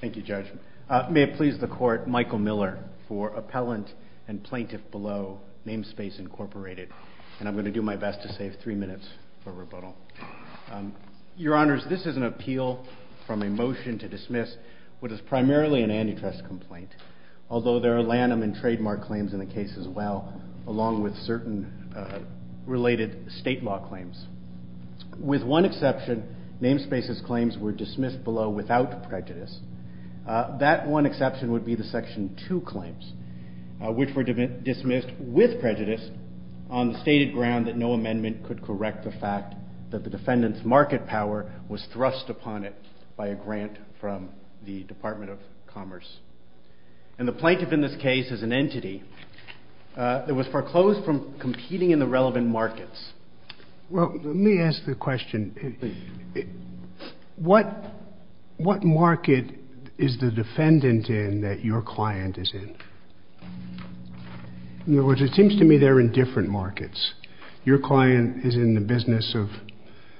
Thank you, Judge. May it please the Court, Michael Miller for Appellant and Plaintiff Below, Namespace Incorporated, and I'm going to do my best to save three minutes for rebuttal. Your Honors, this is an appeal from a motion to dismiss what is primarily an antitrust complaint, although there are Lanham and Trademark claims in the case as well, along with certain related state law claims. With one exception, Namespace's claims were dismissed below without prejudice. That one exception would be the Section 2 claims, which were dismissed with prejudice on the stated ground that no amendment could correct the fact that the defendant's market power was thrust upon it by a grant from the Department of Commerce. And the plaintiff in this case is an entity that was foreclosed from competing in the relevant markets. Well, let me ask the question. What market is the defendant in that your client is in? In other words, it seems to me they're in different markets. Your client is in the business of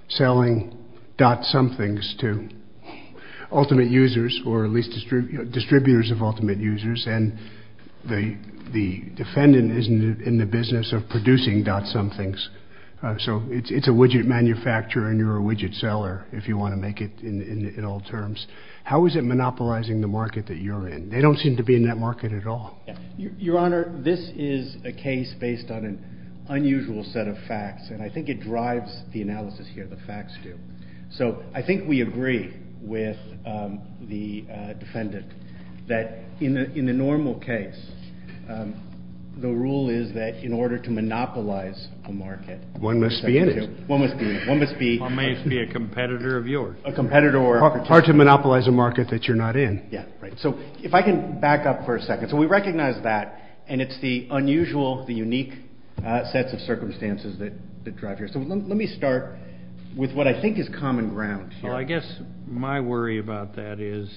selling dot-somethings to ultimate users, or at least distributors of ultimate users, and the defendant is in the business of producing dot-somethings. So it's a widget manufacturer and you're a widget seller, if you want to make it in all terms. How is it monopolizing the market that you're in? They don't seem to be in that market at all. Your Honor, this is a case based on an unusual set of facts, and I think it drives the analysis here, the facts do. So I think we agree with the defendant that in a normal case, the rule is that in order to monopolize a market— One must be in it. One must be in it. One must be— One must be a competitor of yours. A competitor— It's hard to monopolize a market that you're not in. Yeah, right. So if I can back up for a second. So we recognize that, and it's the unusual, the unique sets of circumstances that drive here. So let me start with what I think is common ground here. Well, I guess my worry about that is,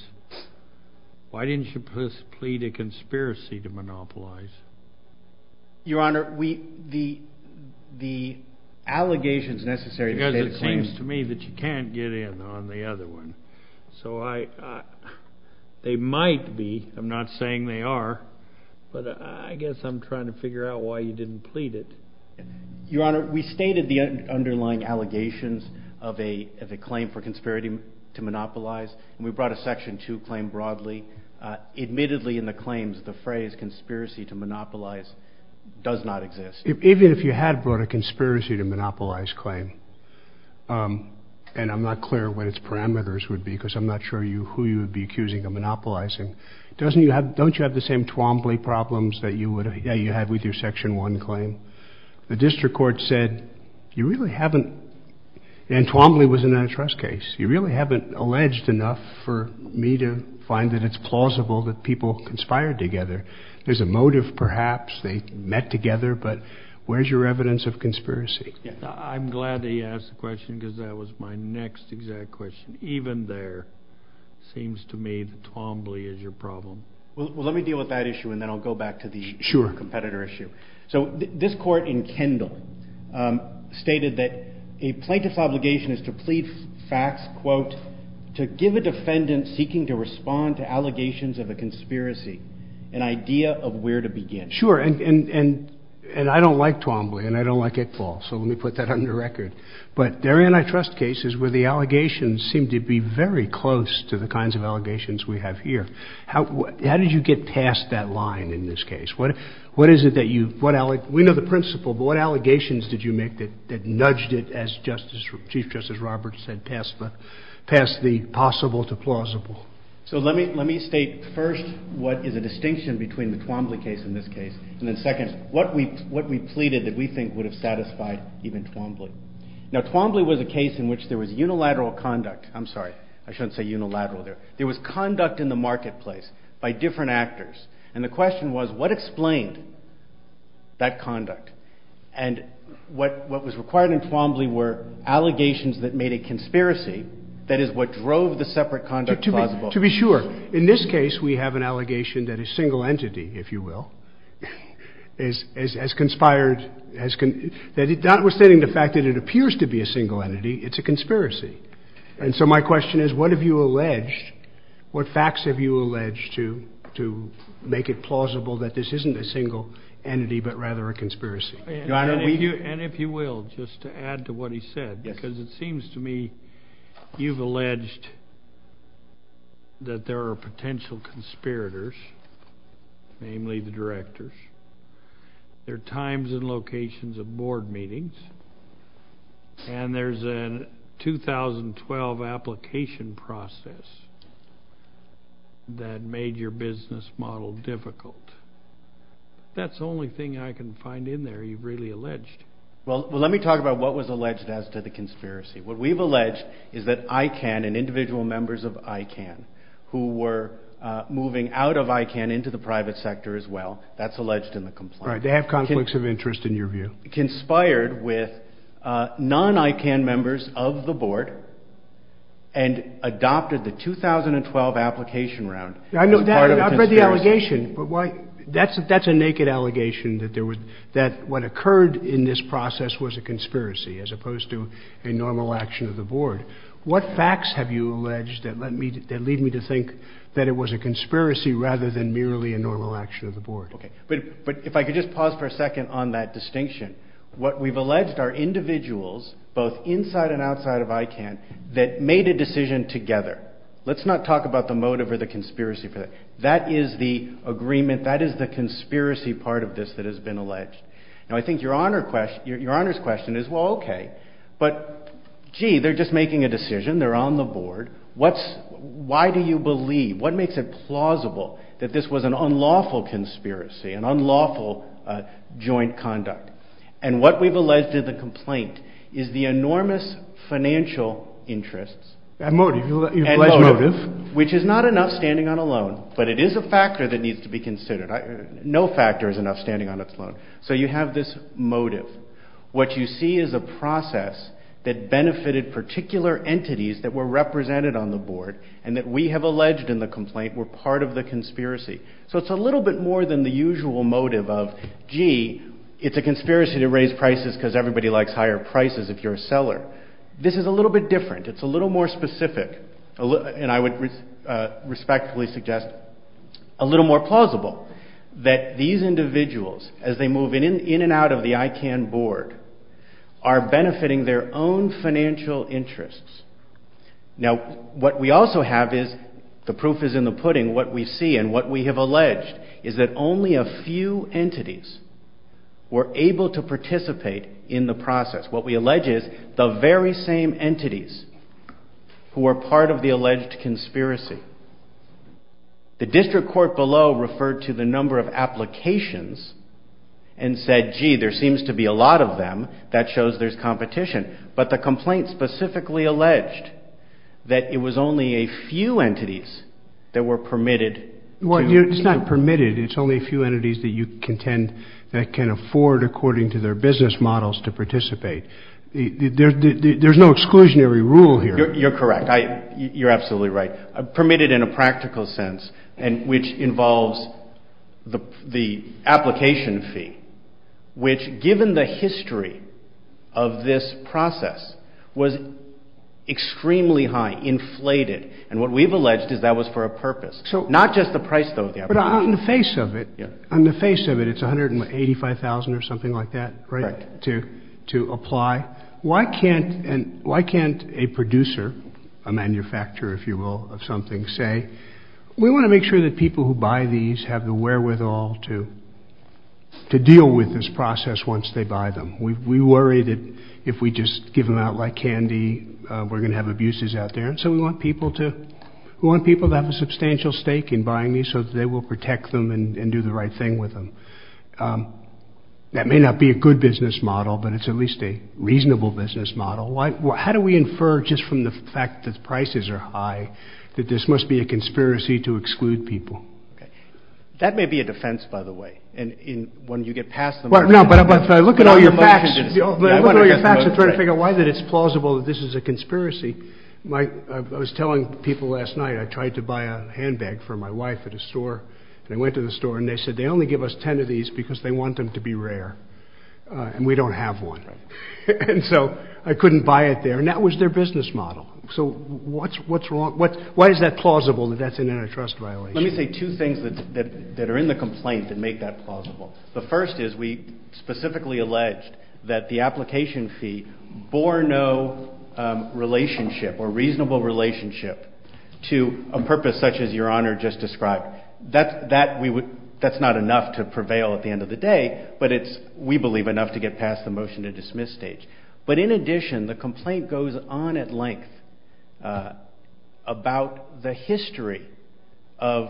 why didn't you please plead a conspiracy to monopolize? Your Honor, the allegations necessary to state a claim— So I—they might be. I'm not saying they are. But I guess I'm trying to figure out why you didn't plead it. Your Honor, we stated the underlying allegations of a claim for conspiracy to monopolize, and we brought a Section 2 claim broadly. Admittedly, in the claims, the phrase conspiracy to monopolize does not exist. Even if you had brought a conspiracy to monopolize claim, and I'm not clear what its parameters would be because I'm not sure who you would be accusing of monopolizing, don't you have the same Twombly problems that you had with your Section 1 claim? The district court said you really haven't—and Twombly was an antitrust case. You really haven't alleged enough for me to find that it's plausible that people conspired together. There's a motive, perhaps. They met together. But where's your evidence of conspiracy? I'm glad that you asked the question because that was my next exact question. Even there, it seems to me that Twombly is your problem. Well, let me deal with that issue, and then I'll go back to the competitor issue. So this court in Kendall stated that a plaintiff's obligation is to plead facts, quote, to give a defendant seeking to respond to allegations of a conspiracy an idea of where to begin. Sure, and I don't like Twombly, and I don't like Iqbal, so let me put that under record. But there are antitrust cases where the allegations seem to be very close to the kinds of allegations we have here. How did you get past that line in this case? We know the principle, but what allegations did you make that nudged it, as Chief Justice Roberts said, past the possible to plausible? So let me state first what is a distinction between the Twombly case and this case, and then second, what we pleaded that we think would have satisfied even Twombly. Now, Twombly was a case in which there was unilateral conduct. I'm sorry, I shouldn't say unilateral there. There was conduct in the marketplace by different actors, and the question was what explained that conduct, and what was required in Twombly were allegations that made a conspiracy, that is, what drove the separate conduct plausible. To be sure, in this case we have an allegation that a single entity, if you will, has conspired, notwithstanding the fact that it appears to be a single entity, it's a conspiracy. And so my question is, what have you alleged, what facts have you alleged to make it plausible that this isn't a single entity, but rather a conspiracy? And if you will, just to add to what he said, because it seems to me you've alleged that there are potential conspirators, namely the directors. There are times and locations of board meetings, and there's a 2012 application process that made your business model difficult. That's the only thing I can find in there you've really alleged. Well, let me talk about what was alleged as to the conspiracy. What we've alleged is that ICANN and individual members of ICANN who were moving out of ICANN into the private sector as well, that's alleged in the complaint. Right, they have conflicts of interest in your view. Conspired with non-ICANN members of the board and adopted the 2012 application round. I've read the allegation. That's a naked allegation that what occurred in this process was a conspiracy as opposed to a normal action of the board. What facts have you alleged that lead me to think that it was a conspiracy rather than merely a normal action of the board? Okay, but if I could just pause for a second on that distinction. What we've alleged are individuals, both inside and outside of ICANN, that made a decision together. Let's not talk about the motive or the conspiracy for that. That is the agreement, that is the conspiracy part of this that has been alleged. Now I think your Honor's question is, well, okay, but gee, they're just making a decision. They're on the board. Why do you believe, what makes it plausible that this was an unlawful conspiracy, an unlawful joint conduct? And what we've alleged in the complaint is the enormous financial interests. That motive, you've alleged motive. Which is not enough standing on a loan, but it is a factor that needs to be considered. No factor is enough standing on its loan. So you have this motive. What you see is a process that benefited particular entities that were represented on the board and that we have alleged in the complaint were part of the conspiracy. So it's a little bit more than the usual motive of, gee, it's a conspiracy to raise prices because everybody likes higher prices if you're a seller. This is a little bit different. It's a little more specific, and I would respectfully suggest a little more plausible, that these individuals, as they move in and out of the ICANN board, are benefiting their own financial interests. Now, what we also have is, the proof is in the pudding, what we see and what we have alleged is that only a few entities were able to participate in the process. What we allege is the very same entities who were part of the alleged conspiracy. The district court below referred to the number of applications and said, gee, there seems to be a lot of them. That shows there's competition. But the complaint specifically alleged that it was only a few entities that were permitted. Well, it's not permitted. It's only a few entities that you contend that can afford, according to their business models, to participate. There's no exclusionary rule here. You're correct. You're absolutely right. Permitted in a practical sense, which involves the application fee, which, given the history of this process, was extremely high, inflated, and what we've alleged is that was for a purpose, not just the price, though, of the application fee. But on the face of it, it's $185,000 or something like that, right, to apply. Why can't a producer, a manufacturer, if you will, of something say, we want to make sure that people who buy these have the wherewithal to deal with this process once they buy them. We worry that if we just give them out like candy, we're going to have abuses out there. And so we want people to have a substantial stake in buying these so that they will protect them and do the right thing with them. So that may not be a good business model, but it's at least a reasonable business model. How do we infer just from the fact that prices are high that this must be a conspiracy to exclude people? That may be a defense, by the way, when you get past them. No, but if I look at all your facts and try to figure out why it's plausible that this is a conspiracy, I was telling people last night I tried to buy a handbag for my wife at a store. And I went to the store and they said they only give us ten of these because they want them to be rare and we don't have one. And so I couldn't buy it there. And that was their business model. So what's wrong? Why is that plausible that that's an antitrust violation? Let me say two things that are in the complaint that make that plausible. The first is we specifically alleged that the application fee bore no relationship or reasonable relationship to a purpose such as Your Honor just described. That's not enough to prevail at the end of the day, but it's, we believe, enough to get past the motion to dismiss stage. But in addition, the complaint goes on at length about the history of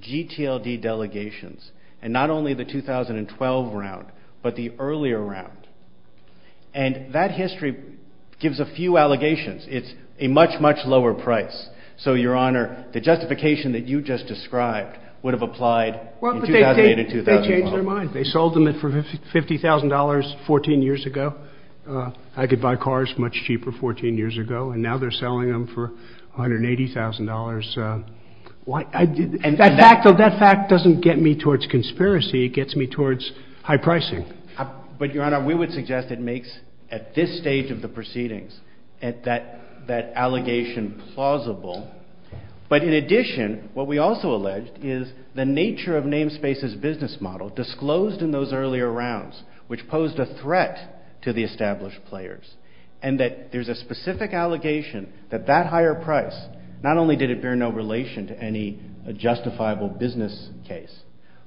GTLD delegations, and not only the 2012 round, but the earlier round. And that history gives a few allegations. It's a much, much lower price. So, Your Honor, the justification that you just described would have applied in 2008 and 2012. They changed their mind. They sold them at $50,000 14 years ago. I could buy cars much cheaper 14 years ago, and now they're selling them for $180,000. That fact doesn't get me towards conspiracy. It gets me towards high pricing. But, Your Honor, we would suggest it makes, at this stage of the proceedings, that allegation plausible. But in addition, what we also alleged is the nature of Namespace's business model disclosed in those earlier rounds, which posed a threat to the established players, and that there's a specific allegation that that higher price, not only did it bear no relation to any justifiable business case,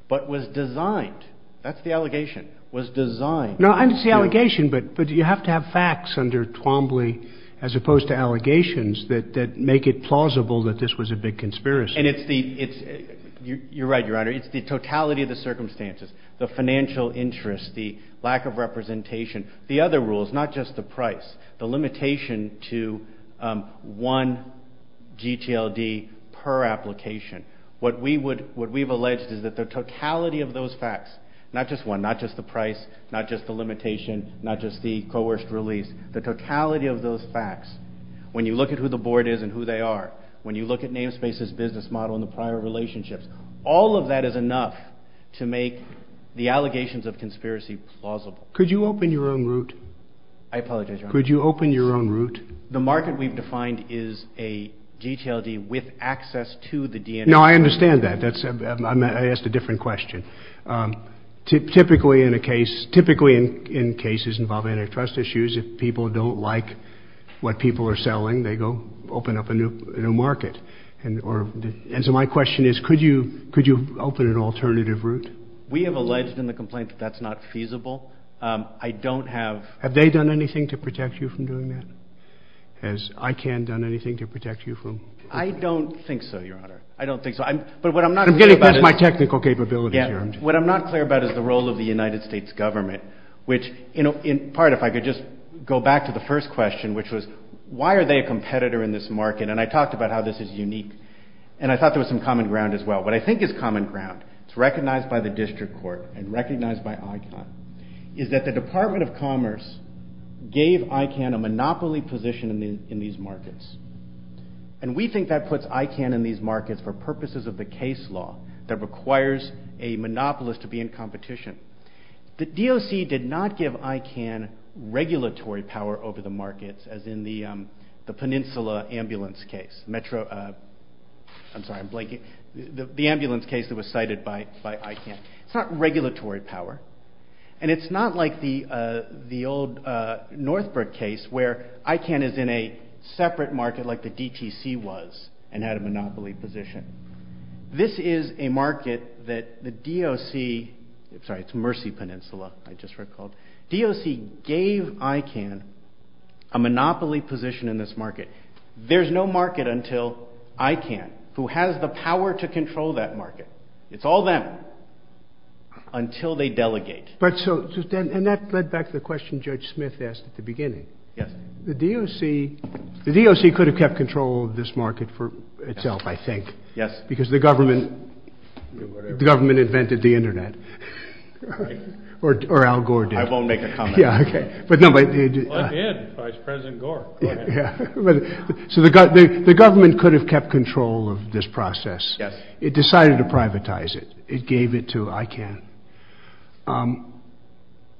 but was designed, that's the allegation, was designed. No, it's the allegation, but you have to have facts under Twombly as opposed to allegations that make it plausible that this was a big conspiracy. And it's the, you're right, Your Honor, it's the totality of the circumstances, the financial interest, the lack of representation, the other rules, not just the price, the limitation to one GTLD per application. What we would, what we've alleged is that the totality of those facts, not just one, not just the price, not just the limitation, not just the coerced release, the totality of those facts, when you look at who the board is and who they are, when you look at Namespace's business model and the prior relationships, all of that is enough to make the allegations of conspiracy plausible. Could you open your own route? I apologize, Your Honor. Could you open your own route? The market we've defined is a GTLD with access to the DNA. No, I understand that. I asked a different question. Typically in a case, typically in cases involving antitrust issues, if people don't like what people are selling, they go open up a new market. And so my question is, could you open an alternative route? We have alleged in the complaint that that's not feasible. I don't have. Have they done anything to protect you from doing that? Has ICANN done anything to protect you from? I don't think so, Your Honor. I don't think so. I'm getting past my technical capabilities here. What I'm not clear about is the role of the United States government, which in part, if I could just go back to the first question, which was why are they a competitor in this market? And I talked about how this is unique, and I thought there was some common ground as well. What I think is common ground, it's recognized by the district court and recognized by ICANN, is that the Department of Commerce gave ICANN a monopoly position in these markets. And we think that puts ICANN in these markets for purposes of the case law that requires a monopolist to be in competition. The DOC did not give ICANN regulatory power over the markets, as in the Peninsula ambulance case. I'm sorry, I'm blanking. The ambulance case that was cited by ICANN. It's not regulatory power. And it's not like the old Northbrook case where ICANN is in a separate market like the DTC was and had a monopoly position. This is a market that the DOC – sorry, it's Mercy Peninsula, I just recalled. DOC gave ICANN a monopoly position in this market. There's no market until ICANN, who has the power to control that market. It's all them until they delegate. And that led back to the question Judge Smith asked at the beginning. Yes. The DOC could have kept control of this market for itself, I think. Yes. Because the government invented the Internet. Right. Or Al Gore did. I won't make a comment on that. Yeah, okay. Well, I did, Vice President Gore. Yeah. So the government could have kept control of this process. Yes. It decided to privatize it. It gave it to ICANN.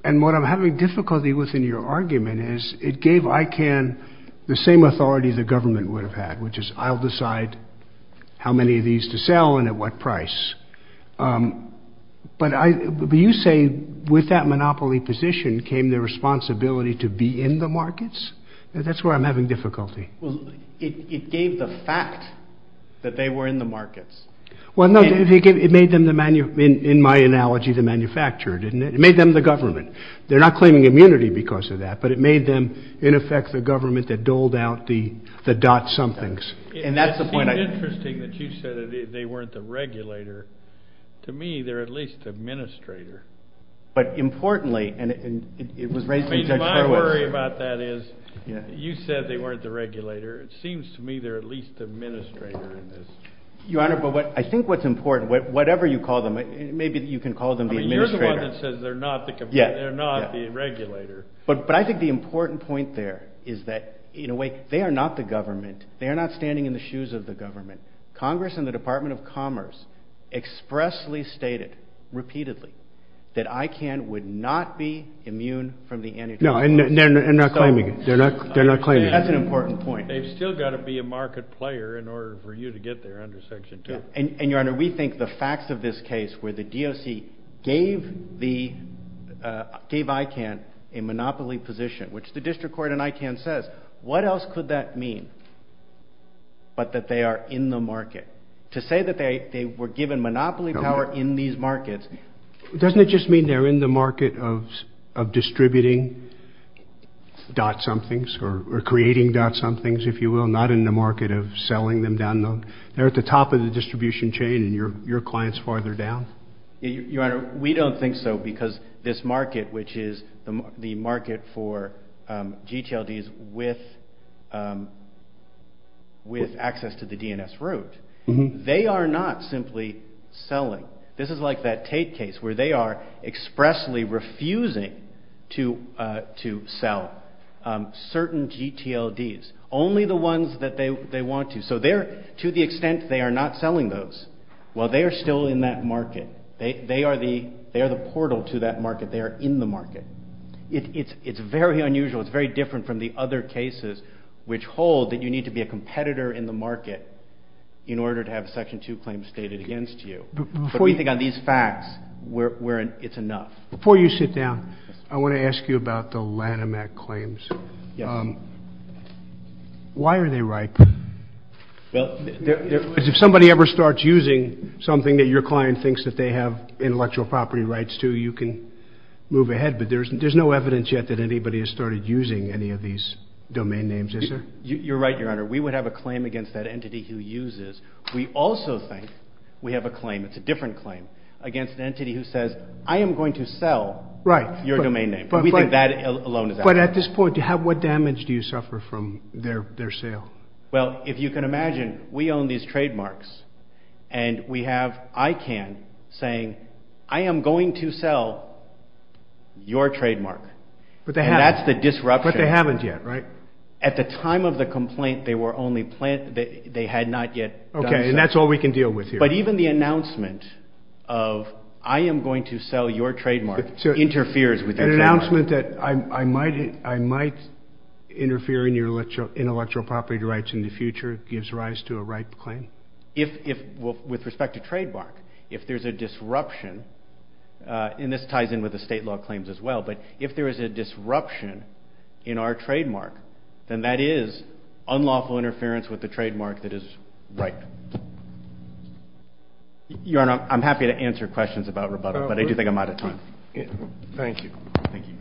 And what I'm having difficulty with in your argument is it gave ICANN the same authority the government would have had, which is I'll decide how many of these to sell and at what price. But you say with that monopoly position came the responsibility to be in the markets? That's where I'm having difficulty. Well, it gave the fact that they were in the markets. Well, no, it made them, in my analogy, the manufacturer, didn't it? It made them the government. They're not claiming immunity because of that, but it made them, in effect, the government that doled out the dot somethings. It seemed interesting that you said they weren't the regulator. To me, they're at least the administrator. But importantly, and it was raised in Judge Horowitz. My worry about that is you said they weren't the regulator. It seems to me they're at least the administrator in this. Your Honor, but I think what's important, whatever you call them, maybe you can call them the administrator. I mean, you're the one that says they're not the regulator. But I think the important point there is that, in a way, they are not the government. They are not standing in the shoes of the government. Congress and the Department of Commerce expressly stated, repeatedly, that ICANN would not be immune from the antitrust policy. No, and they're not claiming it. They're not claiming it. That's an important point. They've still got to be a market player in order for you to get there under Section 2. And, Your Honor, we think the facts of this case where the DOC gave ICANN a monopoly position, which the district court in ICANN says, what else could that mean but that they are in the market? To say that they were given monopoly power in these markets. Doesn't it just mean they're in the market of distributing dot-somethings or creating dot-somethings, if you will, not in the market of selling them down the – they're at the top of the distribution chain and your client's farther down? Your Honor, we don't think so because this market, which is the market for GTLDs with access to the DNS route, they are not simply selling. This is like that Tate case where they are expressly refusing to sell certain GTLDs, only the ones that they want to. So to the extent they are not selling those, well, they are still in that market. They are the portal to that market. They are in the market. It's very unusual. It's very different from the other cases which hold that you need to be a competitor in the market in order to have Section 2 claims stated against you. But we think on these facts, it's enough. Before you sit down, I want to ask you about the Lanham Act claims. Yes. Why are they ripe? If somebody ever starts using something that your client thinks that they have intellectual property rights to, you can move ahead. But there's no evidence yet that anybody has started using any of these domain names, is there? You're right, Your Honor. We would have a claim against that entity who uses. We also think we have a claim – it's a different claim – against an entity who says, I am going to sell your domain name. We think that alone is outrageous. But at this point, what damage do you suffer from their sale? Well, if you can imagine, we own these trademarks, and we have ICANN saying, I am going to sell your trademark. But they haven't. And that's the disruption. But they haven't yet, right? At the time of the complaint, they were only – they had not yet done so. Okay, and that's all we can deal with here. But even the announcement of, I am going to sell your trademark, interferes with their trademark. The announcement that I might interfere in your intellectual property rights in the future gives rise to a ripe claim? With respect to trademark, if there's a disruption – and this ties in with the state law claims as well – but if there is a disruption in our trademark, then that is unlawful interference with the trademark that is ripe. Your Honor, I'm happy to answer questions about rebuttal, but I do think I'm out of time. Thank you. Thank you.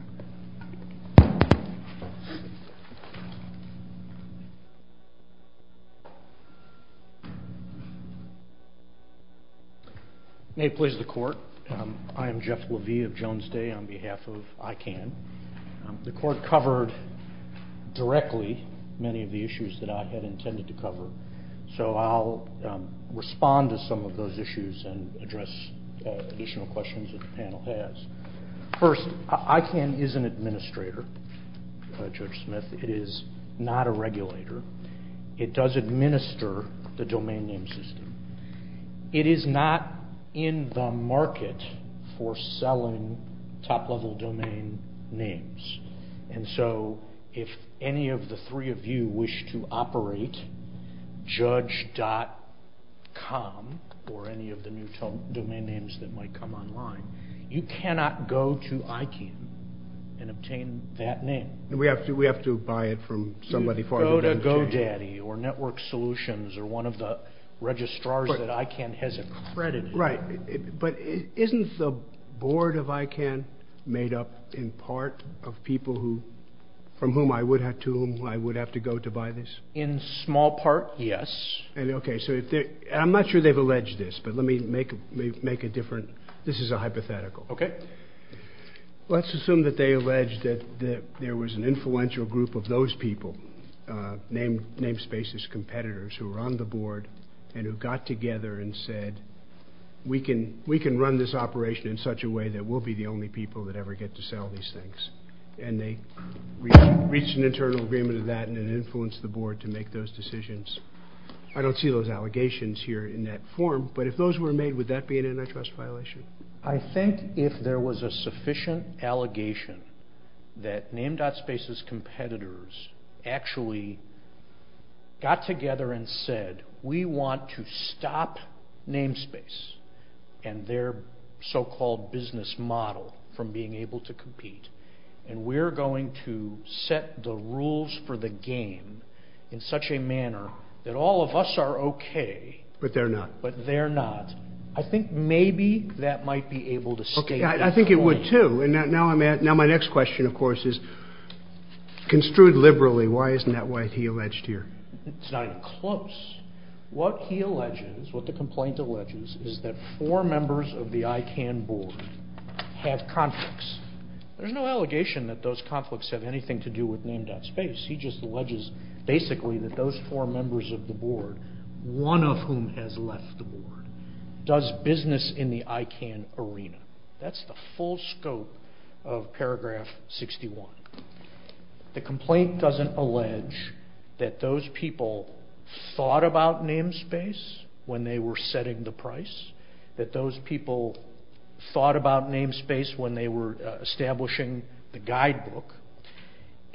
May it please the Court, I am Jeff Levy of Jones Day on behalf of ICANN. The Court covered directly many of the issues that I had intended to cover, so I'll respond to some of those issues and address additional questions that the panel has. First, ICANN is an administrator, Judge Smith. It is not a regulator. It does administer the domain name system. It is not in the market for selling top-level domain names. And so if any of the three of you wish to operate judge.com or any of the new domain names that might come online, you cannot go to ICANN and obtain that name. We have to buy it from somebody. Go to GoDaddy or Network Solutions or one of the registrars that ICANN has accredited. Right. But isn't the board of ICANN made up in part of people from whom I would have to go to buy this? In small part, yes. Okay. I'm not sure they've alleged this, but let me make it different. This is a hypothetical. Okay. Let's assume that they allege that there was an influential group of those people, Namespace's competitors who were on the board and who got together and said, we can run this operation in such a way that we'll be the only people that ever get to sell these things. And they reached an internal agreement of that and it influenced the board to make those decisions. I don't see those allegations here in that form, but if those were made, would that be an antitrust violation? I think if there was a sufficient allegation that Namespace's competitors actually got together and said, we want to stop Namespace and their so-called business model from being able to compete, and we're going to set the rules for the game in such a manner that all of us are okay. But they're not. But they're not. I think maybe that might be able to stay at that point. Okay. I think it would, too. And now my next question, of course, is, construed liberally, why isn't that what he alleged here? It's not even close. What he alleges, what the complaint alleges, is that four members of the ICANN board have conflicts. There's no allegation that those conflicts have anything to do with Namespace. He just alleges basically that those four members of the board, one of whom has left the board, does business in the ICANN arena. That's the full scope of paragraph 61. The complaint doesn't allege that those people thought about Namespace when they were setting the price, that those people thought about Namespace when they were establishing the guidebook.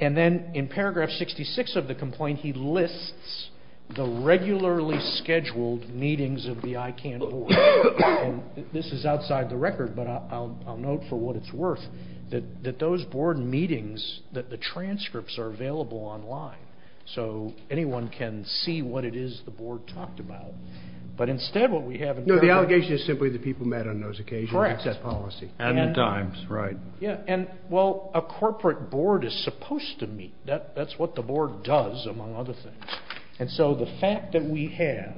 And then in paragraph 66 of the complaint, he lists the regularly scheduled meetings of the ICANN board. And this is outside the record, but I'll note for what it's worth that those board meetings, that the transcripts are available online, so anyone can see what it is the board talked about. But instead, what we have in paragraph 66. No, the allegation is simply the people met on those occasions. Correct. That's that policy. And the times. Right. Yeah, and, well, a corporate board is supposed to meet. That's what the board does, among other things. And so the fact that we have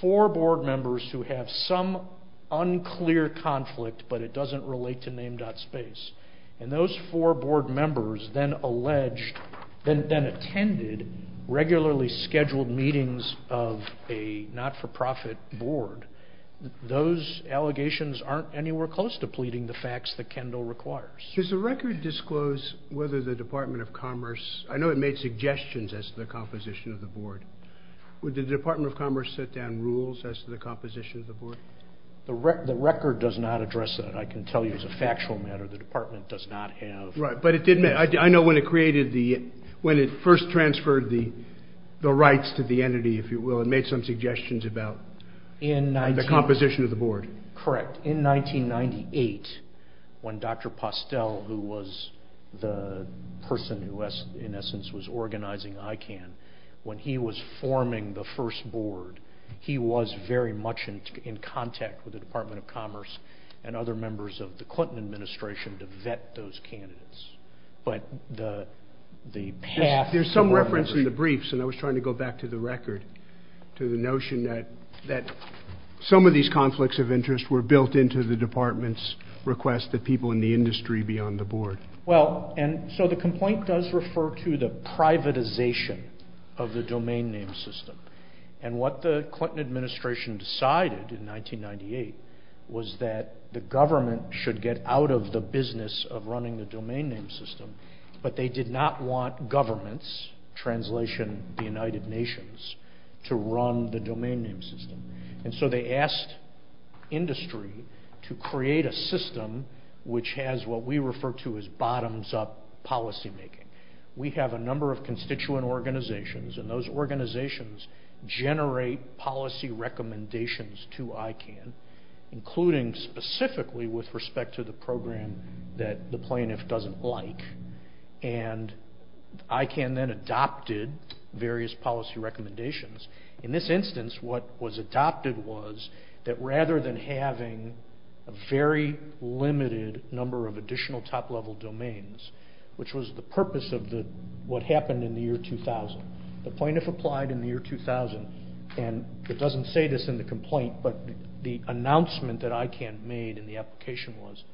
four board members who have some unclear conflict, but it doesn't relate to Namespace, and those four board members then alleged, then attended, regularly scheduled meetings of a not-for-profit board, those allegations aren't anywhere close to pleading the facts that Kendall requires. Does the record disclose whether the Department of Commerce, I know it made suggestions as to the composition of the board, would the Department of Commerce set down rules as to the composition of the board? The record does not address that. I can tell you as a factual matter the department does not have. Right, but it did, I know when it created the, when it first transferred the rights to the entity, if you will, it made some suggestions about. The composition of the board. Correct. In 1998, when Dr. Postel, who was the person who, in essence, was organizing ICANN, when he was forming the first board, he was very much in contact with the Department of Commerce and other members of the Clinton administration to vet those candidates. But the path. There's some reference in the briefs, and I was trying to go back to the record, to the notion that some of these conflicts of interest were built into the department's request that people in the industry be on the board. Well, and so the complaint does refer to the privatization of the domain name system. And what the Clinton administration decided in 1998 was that the government should get out of the business of running the domain name system, but they did not want governments, translation, the United Nations, to run the domain name system. And so they asked industry to create a system which has what we refer to as bottoms-up policymaking. We have a number of constituent organizations, and those organizations generate policy recommendations to ICANN, including specifically with respect to the program that the plaintiff doesn't like. And ICANN then adopted various policy recommendations. In this instance, what was adopted was that rather than having a very limited number of additional top-level domains, which was the purpose of what happened in the year 2000, the plaintiff applied in the year 2000, and it doesn't say this in the complaint, but the announcement that ICANN made in the application was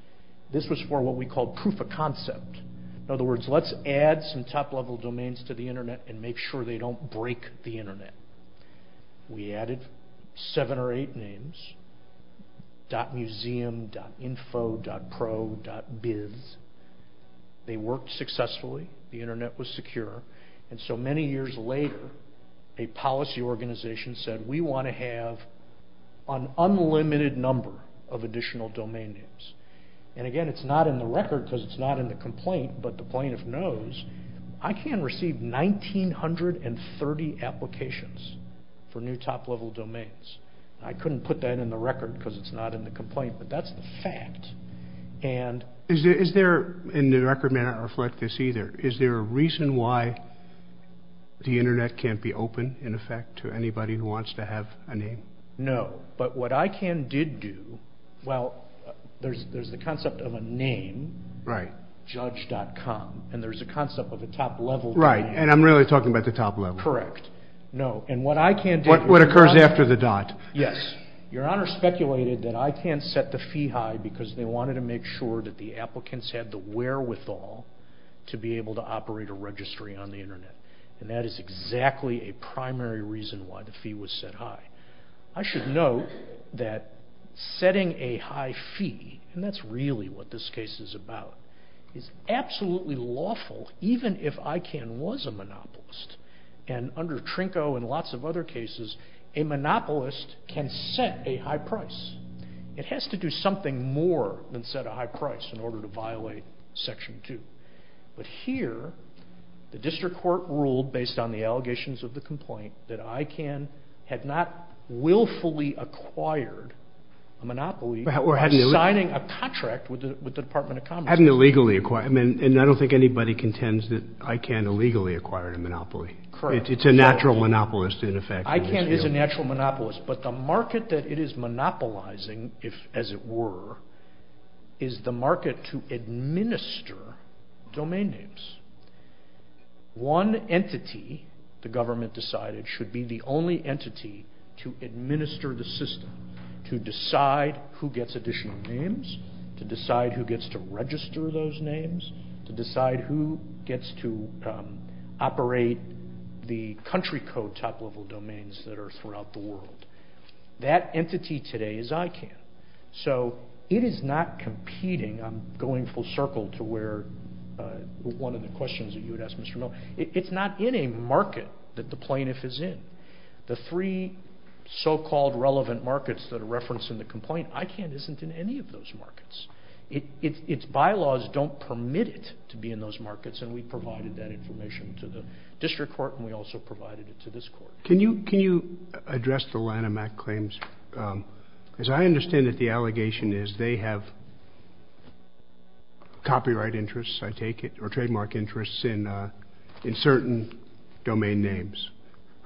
this was for what we called proof of concept. In other words, let's add some top-level domains to the Internet and make sure they don't break the Internet. We added seven or eight names, .museum, .info, .pro, .biz. They worked successfully. The Internet was secure. And so many years later, a policy organization said, we want to have an unlimited number of additional domain names. And again, it's not in the record because it's not in the complaint, but the plaintiff knows ICANN received 1930 applications for new top-level domains. I couldn't put that in the record because it's not in the complaint, but that's the fact. Is there, and the record may not reflect this either, is there a reason why the Internet can't be open, in effect, to anybody who wants to have a name? No, but what ICANN did do, well, there's the concept of a name, judge.com, and there's a concept of a top-level domain. Right, and I'm really talking about the top level. Correct. What occurs after the dot. Yes, Your Honor speculated that ICANN set the fee high because they wanted to make sure that the applicants had the wherewithal to be able to operate a registry on the Internet. And that is exactly a primary reason why the fee was set high. I should note that setting a high fee, and that's really what this case is about, is absolutely lawful, even if ICANN was a monopolist. And under Trinko and lots of other cases, a monopolist can set a high price. It has to do something more than set a high price in order to violate Section 2. But here, the district court ruled, based on the allegations of the complaint, that ICANN had not willfully acquired a monopoly by signing a contract with the Department of Commerce. I don't think anybody contends that ICANN illegally acquired a monopoly. It's a natural monopolist in effect. ICANN is a natural monopolist, but the market that it is monopolizing, as it were, is the market to administer domain names. One entity, the government decided, should be the only entity to administer the system, to decide who gets additional names, to decide who gets to register those names, to decide who gets to operate the country code top-level domains that are throughout the world. That entity today is ICANN. So it is not competing. I'm going full circle to one of the questions that you had asked, Mr. Miller. It's not in a market that the plaintiff is in. The three so-called relevant markets that are referenced in the complaint, ICANN isn't in any of those markets. Its bylaws don't permit it to be in those markets, and we provided that information to the district court and we also provided it to this court. Can you address the Lanham Act claims? As I understand it, the allegation is they have copyright interests, I take it, or trademark interests in certain domain names,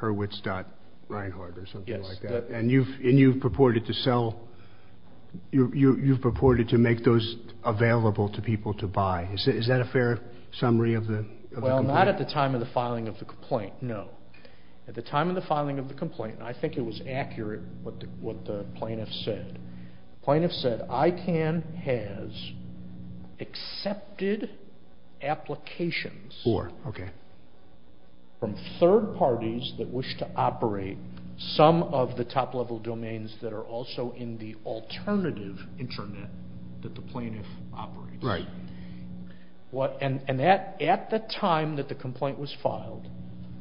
Hurwitz.Reinhart or something like that, and you've purported to sell, you've purported to make those available to people to buy. Is that a fair summary of the complaint? Well, not at the time of the filing of the complaint, no. At the time of the filing of the complaint, and I think it was accurate what the plaintiff said, the plaintiff said ICANN has accepted applications from third parties that wish to operate some of the top-level domains that are also in the alternative internet that the plaintiff operates. Right. And at the time that the complaint was filed,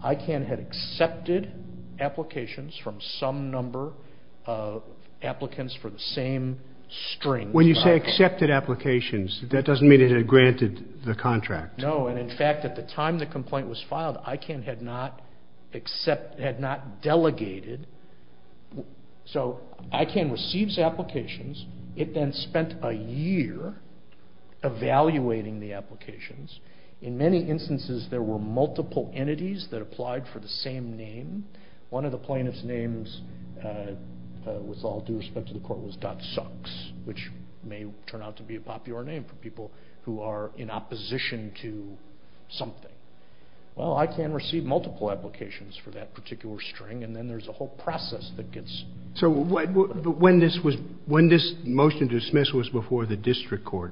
ICANN had accepted applications from some number of applicants for the same strings. When you say accepted applications, that doesn't mean it had granted the contract. No, and in fact, at the time the complaint was filed, ICANN had not delegated. So ICANN receives applications. It then spent a year evaluating the applications. In many instances, there were multiple entities that applied for the same name. One of the plaintiff's names, with all due respect to the court, was .sucks, which may turn out to be a popular name for people who are in opposition to something. Well, ICANN received multiple applications for that particular string, and then there's a whole process that gets... So when this motion to dismiss was before the district court...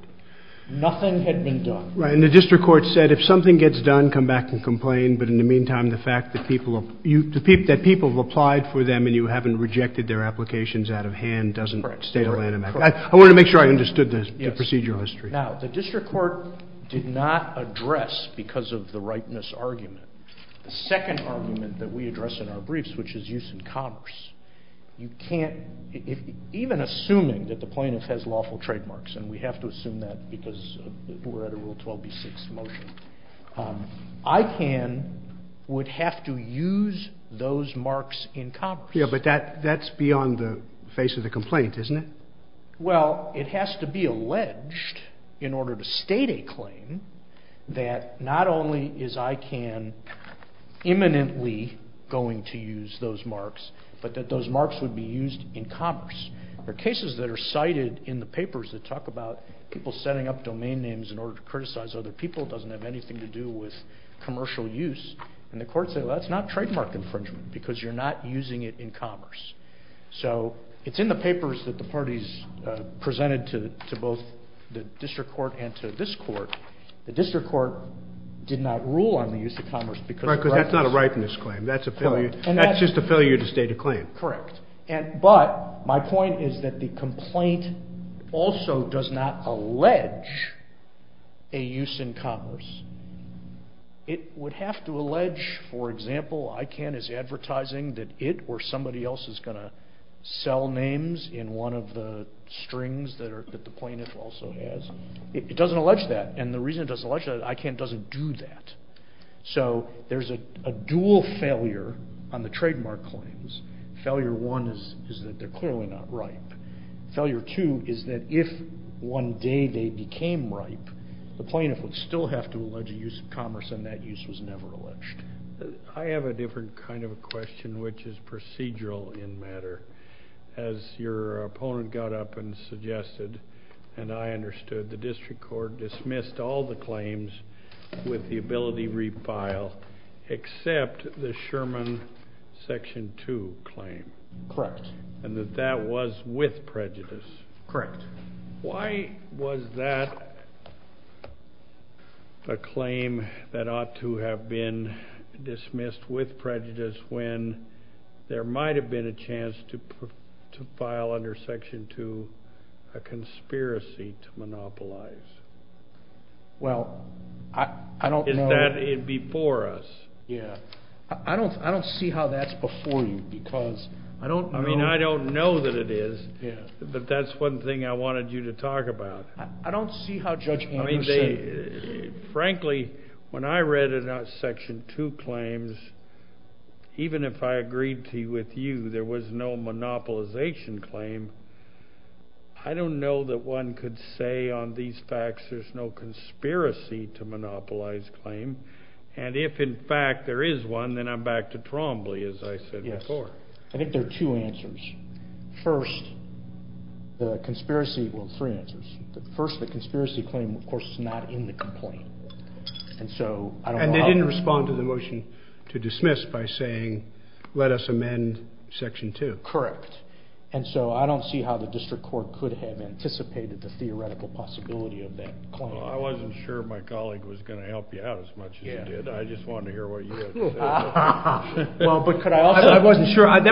Nothing had been done. Right, and the district court said if something gets done, come back and complain, but in the meantime, the fact that people have applied for them and you haven't rejected their applications out of hand doesn't... Correct. I wanted to make sure I understood the procedural history. Now, the district court did not address, because of the rightness argument, the second argument that we address in our briefs, which is use in commerce. You can't... Even assuming that the plaintiff has lawful trademarks, and we have to assume that because we're at a Rule 12b-6 motion, ICANN would have to use those marks in commerce. Yeah, but that's beyond the face of the complaint, isn't it? Well, it has to be alleged in order to state a claim that not only is ICANN imminently going to use those marks, but that those marks would be used in commerce. There are cases that are cited in the papers that talk about people setting up domain names in order to criticize other people. It doesn't have anything to do with commercial use. And the courts say, well, that's not trademark infringement because you're not using it in commerce. So it's in the papers that the parties presented to both the district court and to this court. The district court did not rule on the use of commerce because... Right, because that's not a rightness claim. That's just a failure to state a claim. Correct. But my point is that the complaint also does not allege a use in commerce. It would have to allege, for example, ICANN is advertising that it or somebody else is going to sell names in one of the strings that the plaintiff also has. It doesn't allege that. And the reason it doesn't allege that is ICANN doesn't do that. So there's a dual failure on the trademark claims. Failure one is that they're clearly not ripe. Failure two is that if one day they became ripe, the plaintiff would still have to allege a use in commerce, and that use was never alleged. I have a different kind of a question, which is procedural in matter. As your opponent got up and suggested, and I understood, the district court dismissed all the claims with the ability to refile except the Sherman Section 2 claim. Correct. And that that was with prejudice. Correct. Why was that a claim that ought to have been dismissed with prejudice when there might have been a chance to file under Section 2, a conspiracy to monopolize? Well, I don't know. Is that before us? Yeah. I don't see how that's before you because I don't know. I mean, I don't know that it is. Yeah, but that's one thing I wanted you to talk about. I don't see how Judge Andrews said. Frankly, when I read Section 2 claims, even if I agreed to with you, there was no monopolization claim. I don't know that one could say on these facts there's no conspiracy to monopolize claim, and if, in fact, there is one, then I'm back to Trombley, as I said before. Yes. I think there are two answers. First, the conspiracy, well, three answers. First, the conspiracy claim, of course, is not in the complaint. And they didn't respond to the motion to dismiss by saying, let us amend Section 2. Correct. And so I don't see how the district court could have anticipated the theoretical possibility of that claim. I wasn't sure my colleague was going to help you out as much as he did. I just wanted to hear what you had to say. Well, but could I also? I wasn't sure. I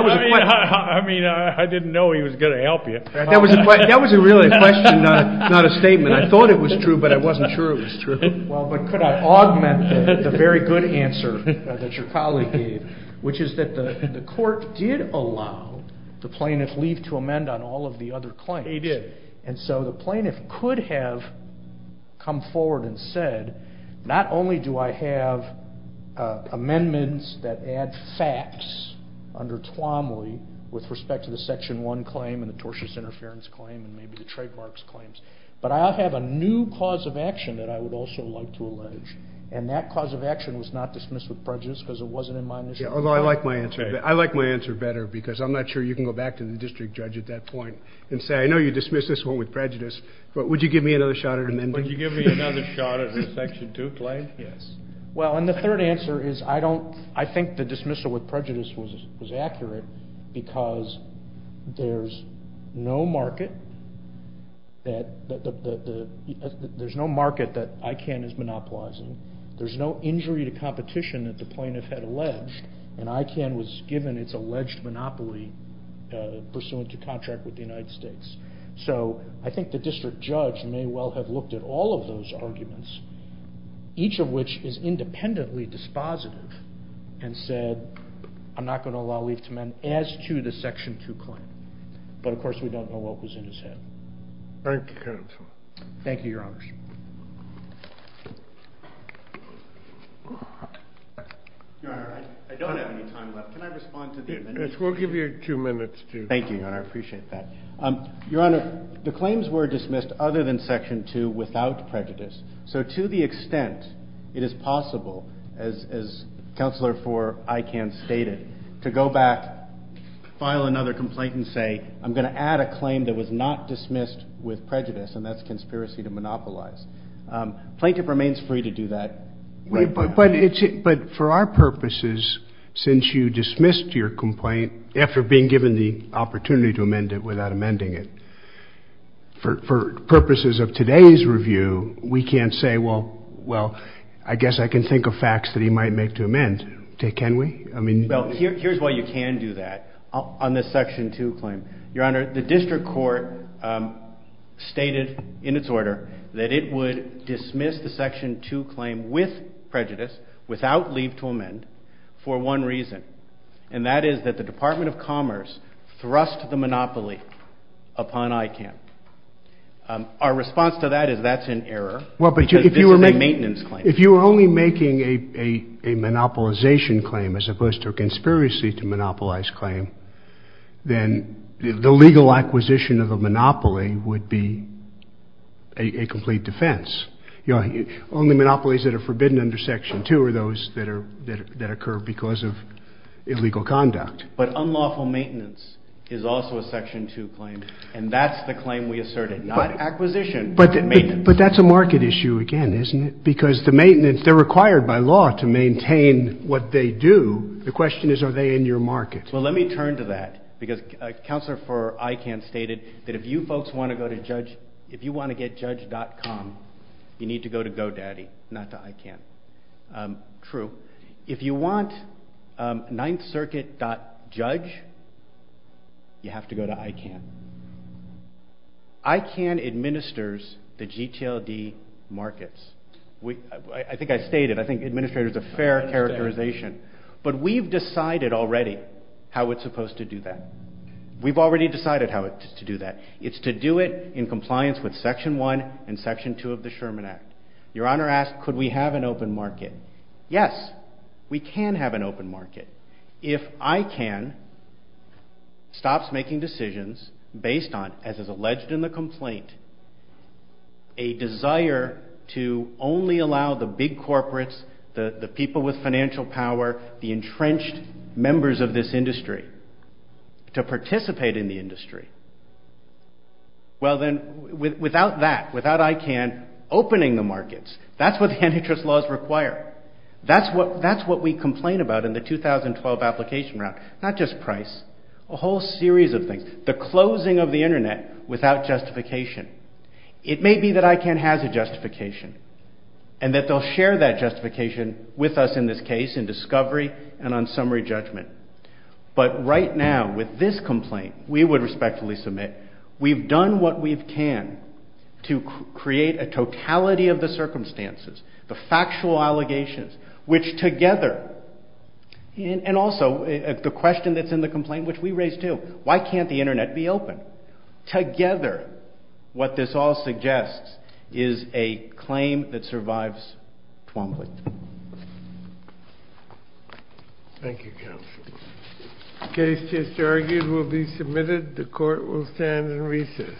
mean, I didn't know he was going to help you. That was really a question, not a statement. I thought it was true, but I wasn't sure it was true. Well, but could I augment the very good answer that your colleague gave, which is that the court did allow the plaintiff leave to amend on all of the other claims. They did. And so the plaintiff could have come forward and said, not only do I have amendments that add facts under Twombly with respect to the Section 1 claim and the tortious interference claim and maybe the trademarks claims, but I have a new cause of action that I would also like to allege. And that cause of action was not dismiss with prejudice because it wasn't in my initiative. Yeah, although I like my answer better because I'm not sure you can go back to the district judge at that point and say, I know you dismissed this one with prejudice, but would you give me another shot at amending? Would you give me another shot at Section 2 claim? Yes. Well, and the third answer is I think the dismissal with prejudice was accurate because there's no market that ICANN is monopolizing. There's no injury to competition that the plaintiff had alleged, and ICANN was given its alleged monopoly pursuant to contract with the United States. So I think the district judge may well have looked at all of those arguments, each of which is independently dispositive and said, I'm not going to allow leave to men as to the Section 2 claim. But of course, we don't know what was in his head. Thank you, Your Honor. Your Honor, I don't have any time left. Can I respond to the amendments? Yes, we'll give you two minutes to. Thank you, Your Honor. I appreciate that. Your Honor, the claims were dismissed other than Section 2 without prejudice. So to the extent it is possible, as Counselor for ICANN stated, to go back, file another complaint and say, I'm going to add a claim that was not dismissed with prejudice, and that's conspiracy to monopolize. Plaintiff remains free to do that. But for our purposes, since you dismissed your complaint, after being given the opportunity to amend it without amending it, for purposes of today's review, we can't say, well, I guess I can think of facts that he might make to amend. Can we? Well, here's why you can do that on the Section 2 claim. Your Honor, the district court stated in its order that it would dismiss the Section 2 claim with prejudice, without leave to amend, for one reason. And that is that the Department of Commerce thrust the monopoly upon ICANN. Our response to that is that's an error because this is a maintenance claim. Well, but if you were only making a monopolization claim as opposed to a conspiracy to monopolize claim, then the legal acquisition of the monopoly would be a complete defense. Your Honor, only monopolies that are forbidden under Section 2 are those that occur because of illegal conduct. But unlawful maintenance is also a Section 2 claim, and that's the claim we asserted, not acquisition, but maintenance. But that's a market issue again, isn't it? Because the maintenance, they're required by law to maintain what they do. The question is are they in your market? Well, let me turn to that because Counselor for ICANN stated that if you folks want to go to Judge, if you want to get Judge.com, you need to go to GoDaddy, not to ICANN. True. If you want 9thCircuit.judge, you have to go to ICANN. ICANN administers the GTLD markets. I think I stated, I think administrator is a fair characterization. But we've decided already how it's supposed to do that. We've already decided how to do that. It's to do it in compliance with Section 1 and Section 2 of the Sherman Act. Your Honor asked could we have an open market. Yes, we can have an open market. If ICANN stops making decisions based on, as is alleged in the complaint, a desire to only allow the big corporates, the people with financial power, the entrenched members of this industry to participate in the industry, well then, without that, without ICANN opening the markets, that's what the antitrust laws require. That's what we complain about in the 2012 application route. Not just price, a whole series of things. The closing of the Internet without justification. It may be that ICANN has a justification and that they'll share that justification with us in this case in discovery and on summary judgment. But right now, with this complaint, we would respectfully submit, we've done what we can to create a totality of the circumstances, the factual allegations, which together, and also the question that's in the complaint, which we raised too, why can't the Internet be open? Together, what this all suggests is a claim that survives Twombly. Thank you, counsel. The case just argued will be submitted. The court will stand in recess.